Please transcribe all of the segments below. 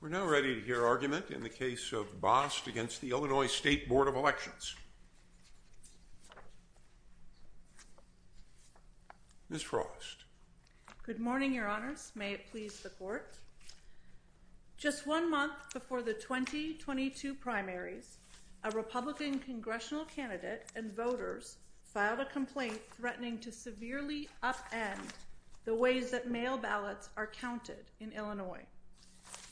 We are now ready to hear argument in the case of Bost v. Illinois State Board of Elections. Ms. Frost. Good morning, your honors. May it please the court. Just one month before the 2022 primaries, a Republican congressional candidate and voters filed a complaint threatening to severely upend the ways that mail ballots are counted in Illinois.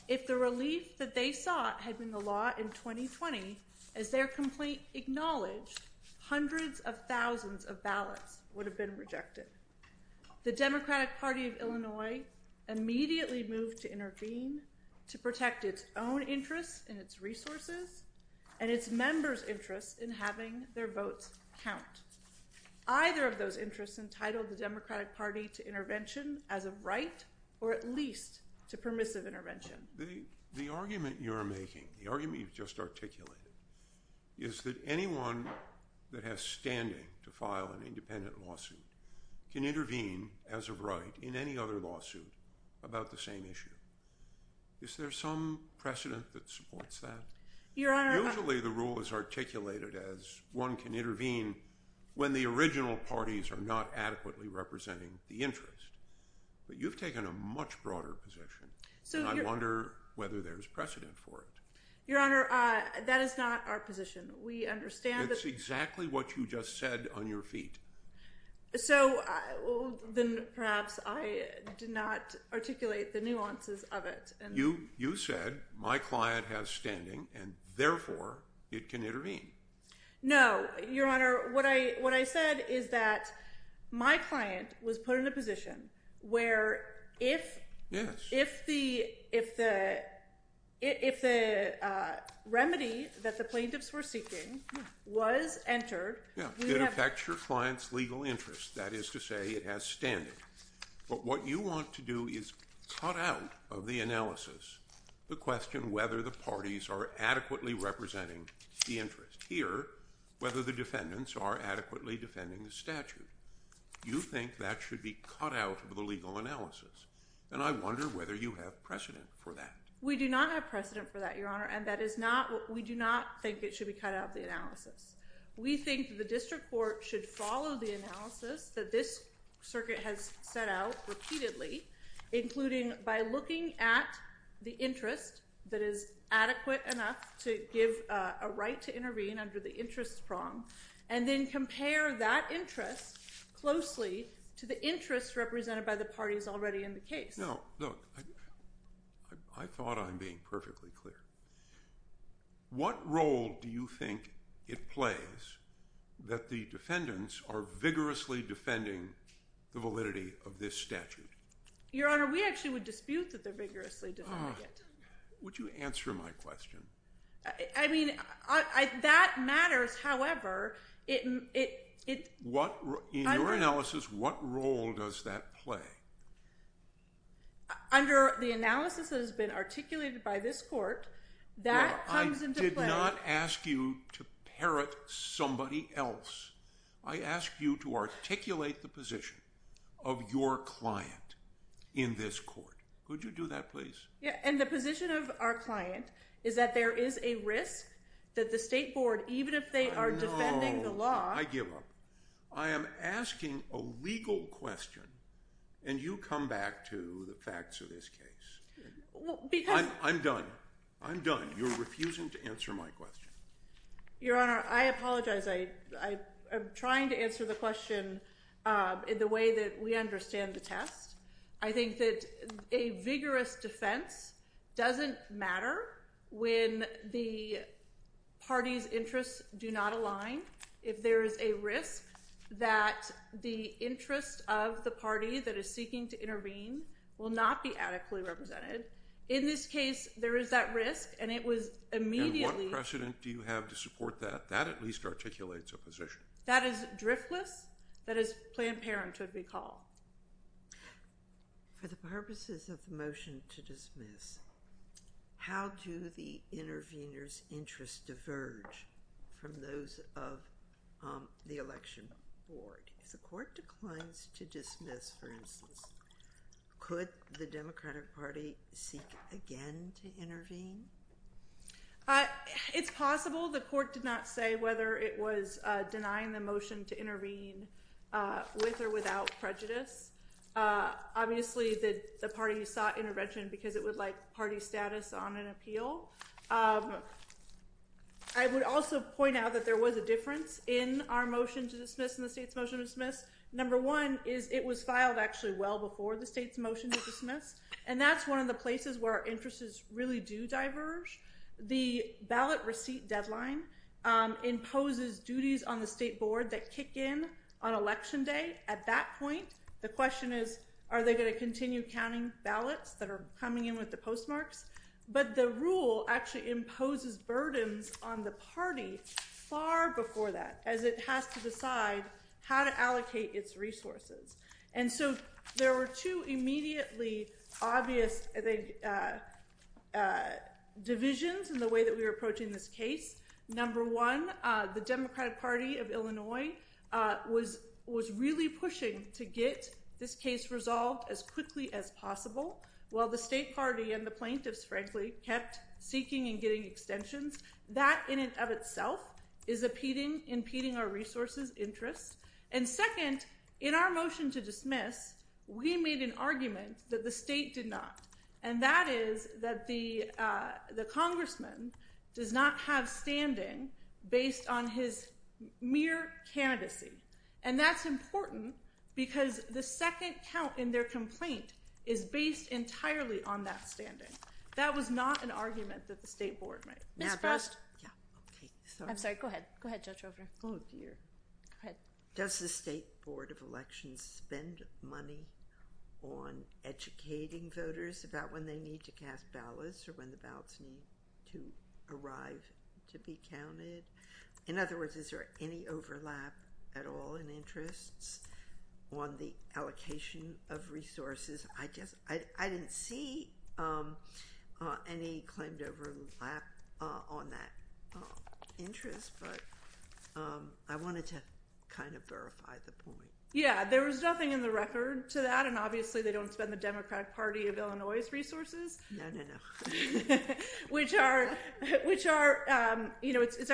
If the relief that they sought had been the law in 2020, as their complaint acknowledged, hundreds of thousands of ballots would have been rejected. The Democratic Party of Illinois immediately moved to intervene to protect its own interests and its resources and its members' interests in having their votes count. Either of those interests entitled the Democratic Party to intervention as of right, or at least to permissive intervention. The argument you are making, the argument you've just articulated, is that anyone that has standing to file an independent lawsuit can intervene as of right in any other lawsuit about the same issue. Is there some precedent that supports that? Usually the rule is articulated as one can intervene when the original parties are not adequately representing the interest. But you've taken a much broader position, and I wonder whether there's precedent for it. Your honor, that is not our position. We understand that… It's exactly what you just said on your feet. So, then perhaps I did not articulate the nuances of it. You said my client has standing, and therefore it can intervene. No, your honor. What I said is that my client was put in a position where if the remedy that the plaintiffs were seeking was entered… It affects your client's legal interest. That is to say, it has standing. What you want to do is cut out of the analysis the question whether the parties are adequately representing the interest. Here, whether the defendants are adequately defending the statute. You think that should be cut out of the legal analysis, and I wonder whether you have precedent for that. We do not have precedent for that, your honor, and that is not… We do not think it should be cut out of the analysis. We think the district court should follow the analysis that this circuit has set out repeatedly, including by looking at the interest that is adequate enough to give a right to intervene under the interest prong, and then compare that interest closely to the interest represented by the parties already in the case. No, look, I thought I'm being perfectly clear. What role do you think it plays that the defendants are vigorously defending the validity of this statute? Your honor, we actually would dispute that they're vigorously defending it. Would you answer my question? I mean, that matters, however, it… In your analysis, what role does that play? Under the analysis that has been articulated by this court, that comes into play… I did not ask you to parrot somebody else. I asked you to articulate the position of your client in this court. Could you do that, please? Yeah, and the position of our client is that there is a risk that the state board, even if they are defending the law… No, I give up. I am asking a legal question, and you come back to the facts of this case. I'm done. I'm done. You're refusing to answer my question. Your honor, I apologize. I'm trying to answer the question in the way that we understand the test. I think that a vigorous defense doesn't matter when the party's interests do not align. If there is a risk that the interest of the party that is seeking to intervene will not be adequately represented. In this case, there is that risk, and it was immediately… And what precedent do you have to support that? That at least articulates a position. That is driftless. That is Planned Parenthood, we call. For the purposes of the motion to dismiss, how do the intervenors' interests diverge from those of the election board? If the court declines to dismiss, for instance, could the Democratic Party seek again to intervene? It's possible. The court did not say whether it was denying the motion to intervene with or without prejudice. Obviously, the party sought intervention because it would like party status on an appeal. I would also point out that there was a difference in our motion to dismiss and the state's motion to dismiss. Number one is it was filed actually well before the state's motion to dismiss. And that's one of the places where our interests really do diverge. The ballot receipt deadline imposes duties on the state board that kick in on election day. At that point, the question is, are they going to continue counting ballots that are coming in with the postmarks? But the rule actually imposes burdens on the party far before that, as it has to decide how to allocate its resources. And so there were two immediately obvious divisions in the way that we were approaching this case. Number one, the Democratic Party of Illinois was really pushing to get this case resolved as quickly as possible, while the state party and the plaintiffs, frankly, kept seeking and getting extensions. That in and of itself is impeding our resources' interests. And second, in our motion to dismiss, we made an argument that the state did not. And that is that the congressman does not have standing based on his mere candidacy. And that's important because the second count in their complaint is based entirely on that standing. That was not an argument that the state board made. Ms. Frost. I'm sorry. Go ahead. Go ahead, Judge Roper. Oh, dear. Go ahead. Does the state board of elections spend money on educating voters about when they need to cast ballots or when the ballots need to arrive to be counted? In other words, is there any overlap at all in interests on the allocation of resources? I didn't see any claimed overlap on that interest, but I wanted to kind of verify the point. Yeah, there was nothing in the record to that. And obviously, they don't spend the Democratic Party of Illinois' resources. No, no, no. It's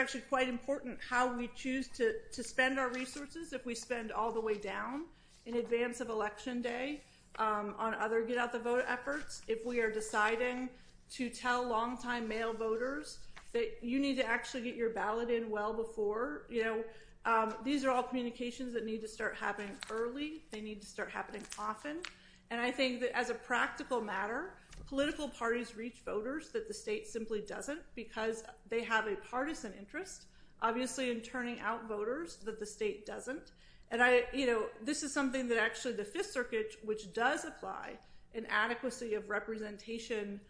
actually quite important how we choose to spend our resources if we spend all the way down in advance of Election Day on other get out the vote efforts. If we are deciding to tell longtime male voters that you need to actually get your ballot in well before. These are all communications that need to start happening early. They need to start happening often. And I think that as a practical matter, political parties reach voters that the state simply doesn't because they have a partisan interest, obviously, in turning out voters that the state doesn't. This is something that actually the Fifth Circuit, which does apply an adequacy of representation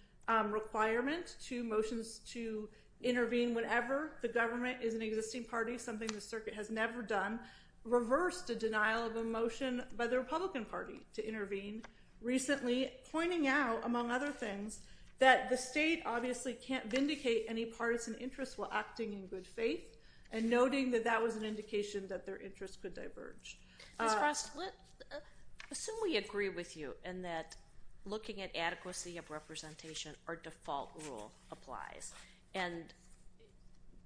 requirement to motions to intervene whenever the government is an existing party, something the circuit has never done, reversed a denial of a motion by the Republican Party to intervene. Recently, pointing out, among other things, that the state obviously can't vindicate any partisan interest while acting in good faith and noting that that was an indication that their interest could diverge. Ms. Frost, assume we agree with you and that looking at adequacy of representation, our default rule applies. And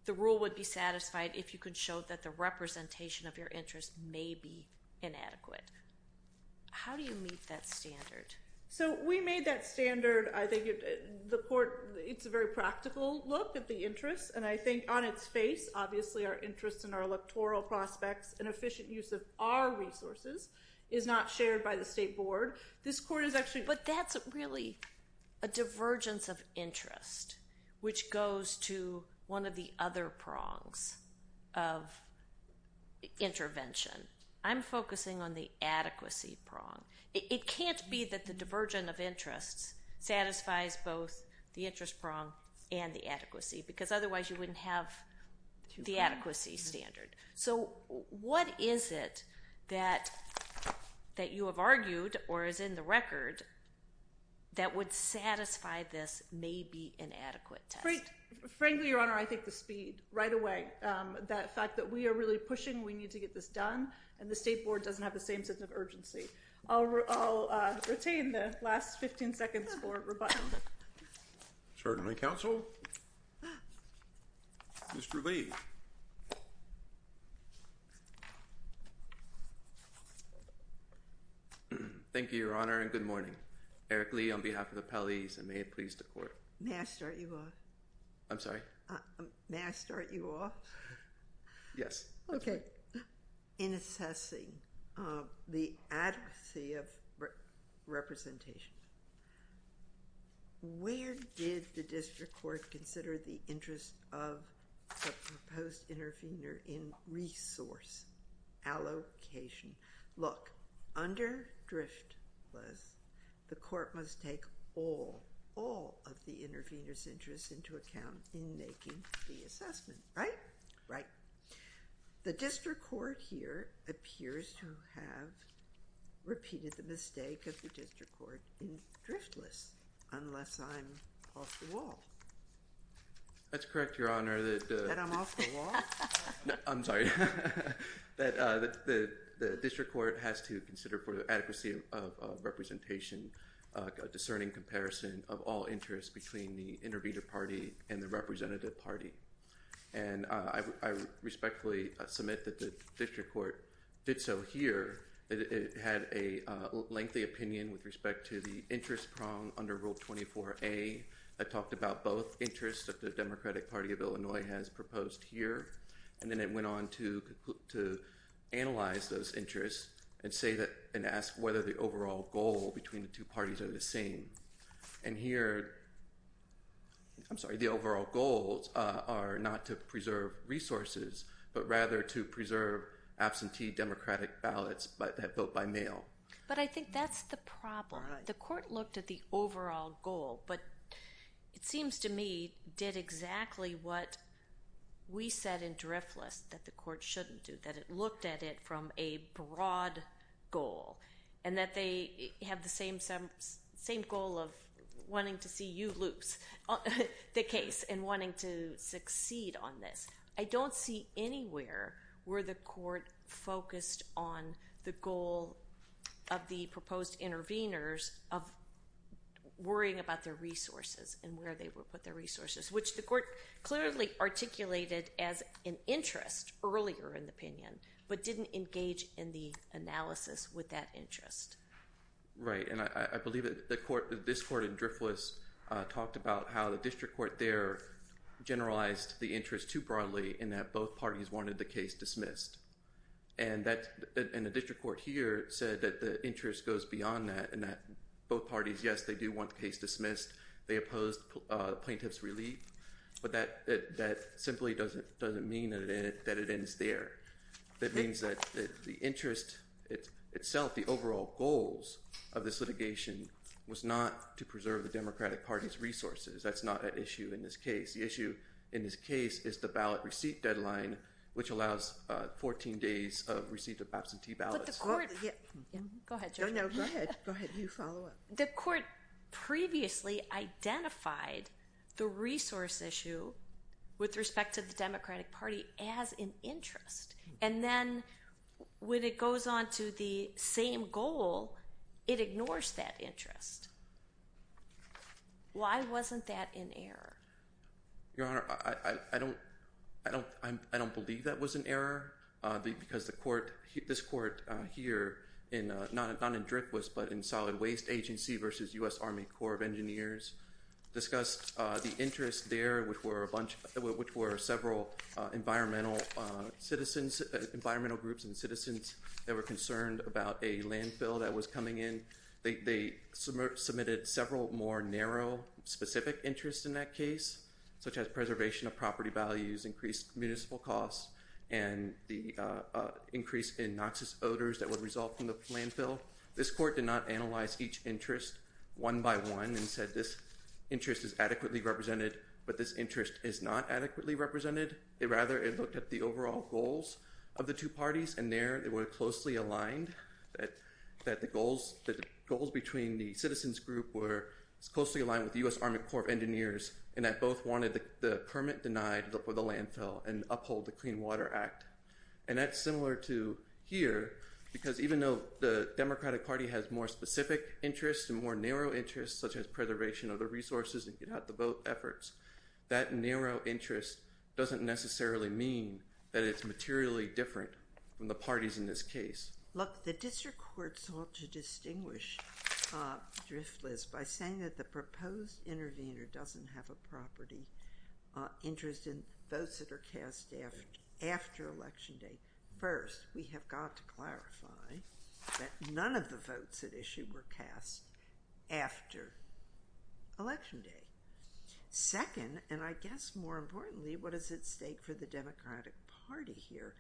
the rule would be satisfied if you could show that the representation of your interest may be inadequate. How do you meet that standard? So we made that standard. I think it's a very practical look at the interest. And I think on its face, obviously, our interest in our electoral prospects and efficient use of our resources is not shared by the state board. But that's really a divergence of interest, which goes to one of the other prongs of intervention. I'm focusing on the adequacy prong. It can't be that the diversion of interests satisfies both the interest prong and the adequacy, because otherwise you wouldn't have the adequacy standard. So what is it that you have argued or is in the record that would satisfy this may be inadequate test? Frankly, Your Honor, I think the speed right away. That fact that we are really pushing, we need to get this done, and the state board doesn't have the same sense of urgency. I'll retain the last 15 seconds for rebuttal. Certainly, counsel. Mr. Lee. Thank you, Your Honor, and good morning. Eric Lee on behalf of the appellees, and may it please the court. May I start you off? I'm sorry? May I start you off? Yes. Okay. In assessing the adequacy of representation, where did the district court consider the interest of the proposed intervener in resource allocation? Look, under Driftless, the court must take all of the intervener's interests into account in making the assessment, right? Right. The district court here appears to have repeated the mistake of the district court in Driftless, unless I'm off the wall. That's correct, Your Honor. That I'm off the wall? I'm sorry. That the district court has to consider for the adequacy of representation, a discerning comparison of all interests between the intervener party and the representative party. And I respectfully submit that the district court did so here. It had a lengthy opinion with respect to the interest prong under Rule 24A that talked about both interests that the Democratic Party of Illinois has proposed here. And then it went on to analyze those interests and ask whether the overall goal between the two parties are the same. And here, I'm sorry, the overall goals are not to preserve resources, but rather to preserve absentee Democratic ballots that vote by mail. But I think that's the problem. All right. The court looked at the overall goal, but it seems to me did exactly what we said in Driftless that the court shouldn't do, that it looked at it from a broad goal. And that they have the same goal of wanting to see you lose the case and wanting to succeed on this. I don't see anywhere where the court focused on the goal of the proposed interveners of worrying about their resources and where they would put their resources, which the court clearly articulated as an interest earlier in the opinion, but didn't engage in the analysis with that interest. Right. And I believe that this court in Driftless talked about how the district court there generalized the interest too broadly in that both parties wanted the case dismissed. And the district court here said that the interest goes beyond that and that both parties, yes, they do want the case dismissed. They opposed plaintiff's relief. But that simply doesn't mean that it ends there. It means that the interest itself, the overall goals of this litigation, was not to preserve the Democratic Party's resources. That's not at issue in this case. The issue in this case is the ballot receipt deadline, which allows 14 days of receipt of absentee ballots. Go ahead. No, no, go ahead. Go ahead. You follow up. The court previously identified the resource issue with respect to the Democratic Party as an interest. And then when it goes on to the same goal, it ignores that interest. Why wasn't that in error? Your Honor, I don't believe that was an error because this court here, not in Driftless but in Solid Waste Agency versus U.S. Army Corps of Engineers, discussed the interest there, which were several environmental groups and citizens that were concerned about a landfill that was coming in. They submitted several more narrow, specific interests in that case, such as preservation of property values, increased municipal costs, and the increase in noxious odors that would result from the landfill. This court did not analyze each interest one by one and said this interest is adequately represented, but this interest is not adequately represented. Rather, it looked at the overall goals of the two parties, and there they were closely aligned, that the goals between the citizens group were closely aligned with the U.S. Army Corps of Engineers, and that both wanted the permit denied for the landfill and uphold the Clean Water Act. And that's similar to here, because even though the Democratic Party has more specific interests and more narrow interests, such as preservation of the resources and get-out-the-vote efforts, that narrow interest doesn't necessarily mean that it's materially different from the parties in this case. Look, the district court sought to distinguish Driftless by saying that the proposed intervener doesn't have a property interest in votes that are cast after Election Day. First, we have got to clarify that none of the votes at issue were cast after Election Day. Second, and I guess more importantly, what is at stake for the Democratic Party here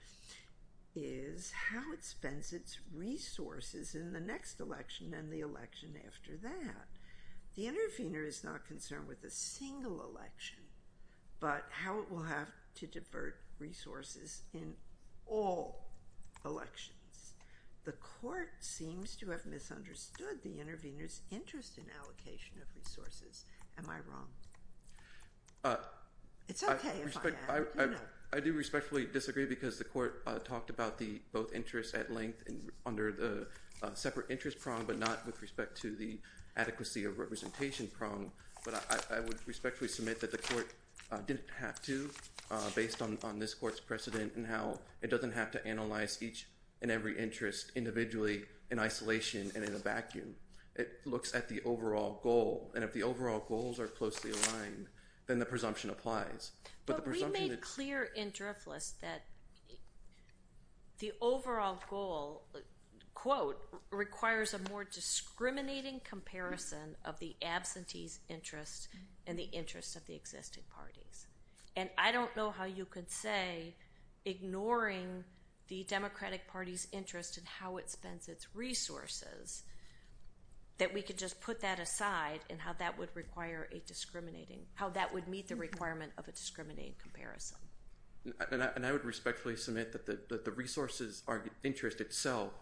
is how it spends its resources in the next election and the election after that. The intervener is not concerned with a single election, but how it will have to divert resources in all elections. The court seems to have misunderstood the intervener's interest in allocation of resources. Am I wrong? It's okay if I am. I do respectfully disagree, because the court talked about both interests at length under the separate interest prong, but not with respect to the adequacy of representation prong. But I would respectfully submit that the court didn't have to, based on this court's precedent and how it doesn't have to analyze each and every interest individually in isolation and in a vacuum. It looks at the overall goal, and if the overall goals are closely aligned, then the presumption applies. But we made clear in Driftless that the overall goal, quote, requires a more discriminating comparison of the absentee's interest and the interest of the existing parties. And I don't know how you could say, ignoring the Democratic Party's interest in how it spends its resources, that we could just put that aside and how that would require a discriminating, how that would meet the requirement of a discriminating comparison. And I would respectfully submit that the resources interest itself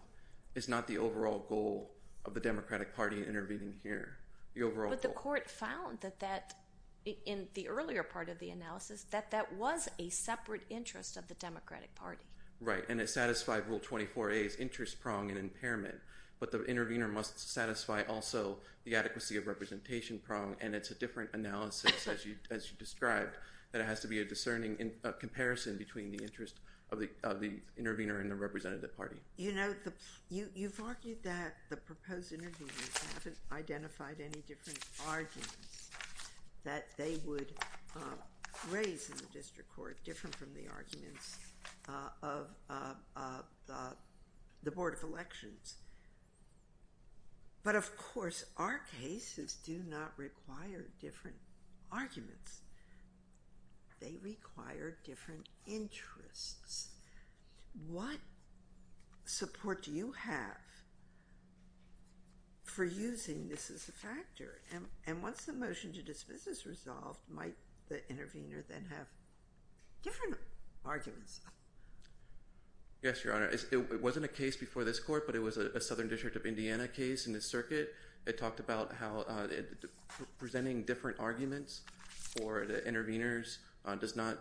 is not the overall goal of the Democratic Party intervening here. The overall goal. But the court found that that, in the earlier part of the analysis, that that was a separate interest of the Democratic Party. Right. And it satisfied Rule 24a's interest prong and impairment. But the intervener must satisfy also the adequacy of representation prong, and it's a different analysis, as you described, that it has to be a discerning comparison between the interest of the intervener and the representative party. You know, you've argued that the proposed interveners haven't identified any different arguments that they would raise in the district court, different from the arguments of the Board of Elections. But, of course, our cases do not require different arguments. They require different interests. What support do you have for using this as a factor? And once the motion to dismiss is resolved, might the intervener then have different arguments? Yes, Your Honor. It wasn't a case before this court, but it was a Southern District of Indiana case in the circuit. It talked about how presenting different arguments for the interveners does not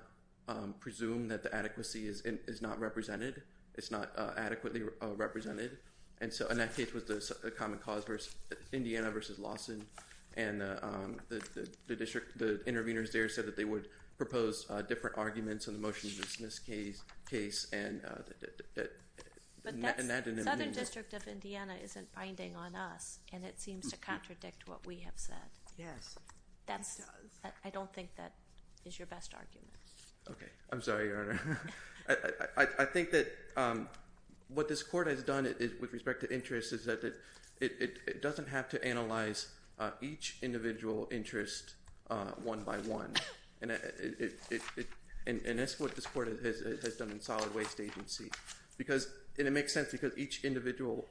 presume that the adequacy is not represented, it's not adequately represented. And that case was the common cause, Indiana versus Lawson. And the interveners there said that they would propose different arguments in the motion to dismiss case. But Southern District of Indiana isn't binding on us, and it seems to contradict what we have said. Yes, it does. I don't think that is your best argument. Okay. I'm sorry, Your Honor. I think that what this court has done with respect to interest is that it doesn't have to analyze each individual interest one by one. And that's what this court has done in solid waste agency. And it makes sense because each individual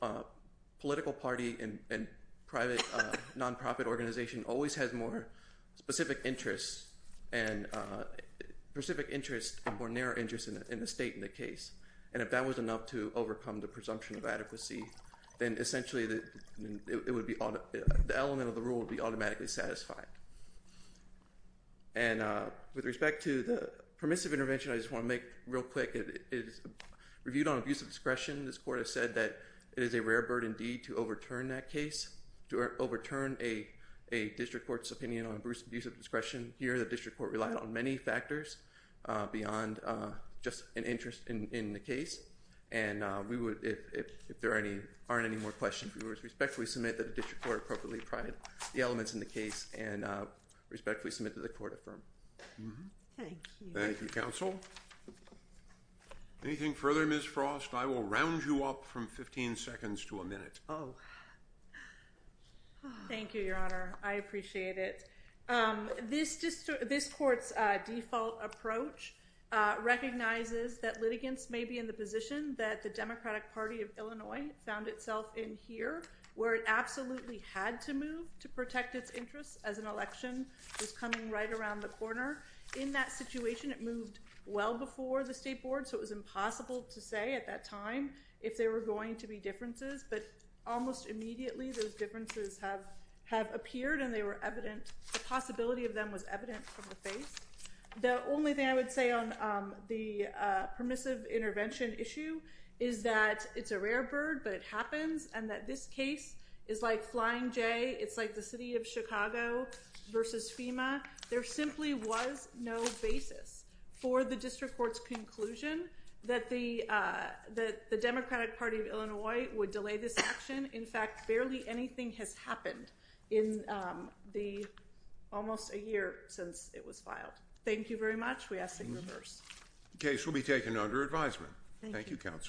political party and private nonprofit organization always has more specific interests and more narrow interests in the state in the case. And if that was enough to overcome the presumption of adequacy, then essentially the element of the rule would be automatically satisfied. And with respect to the permissive intervention, I just want to make real quick, it is reviewed on abuse of discretion. This court has said that it is a rare bird indeed to overturn that case, to overturn a district court's opinion on abuse of discretion. Here, the district court relied on many factors beyond just an interest in the case. And we would, if there aren't any more questions, we would respectfully submit that the district court appropriately provided the elements in the case and respectfully submit that the court affirm. Thank you. Thank you, counsel. Anything further, Ms. Frost? I will round you up from 15 seconds to a minute. Oh. Thank you, Your Honor. I appreciate it. This court's default approach recognizes that litigants may be in the position that the Democratic Party of Illinois found itself in here, where it absolutely had to move to protect its interests as an election was coming right around the corner. In that situation, it moved well before the state board, so it was impossible to say at that time if there were going to be differences. But almost immediately, those differences have appeared and they were evident. The possibility of them was evident from the face. The only thing I would say on the permissive intervention issue is that it's a rare bird, but it happens, and that this case is like Flying J. It's like the city of Chicago versus FEMA. There simply was no basis for the district court's conclusion that the Democratic Party of Illinois would delay this action. In fact, barely anything has happened in almost a year since it was filed. Thank you very much. We ask that you reverse. The case will be taken under advisement. Thank you, counsel.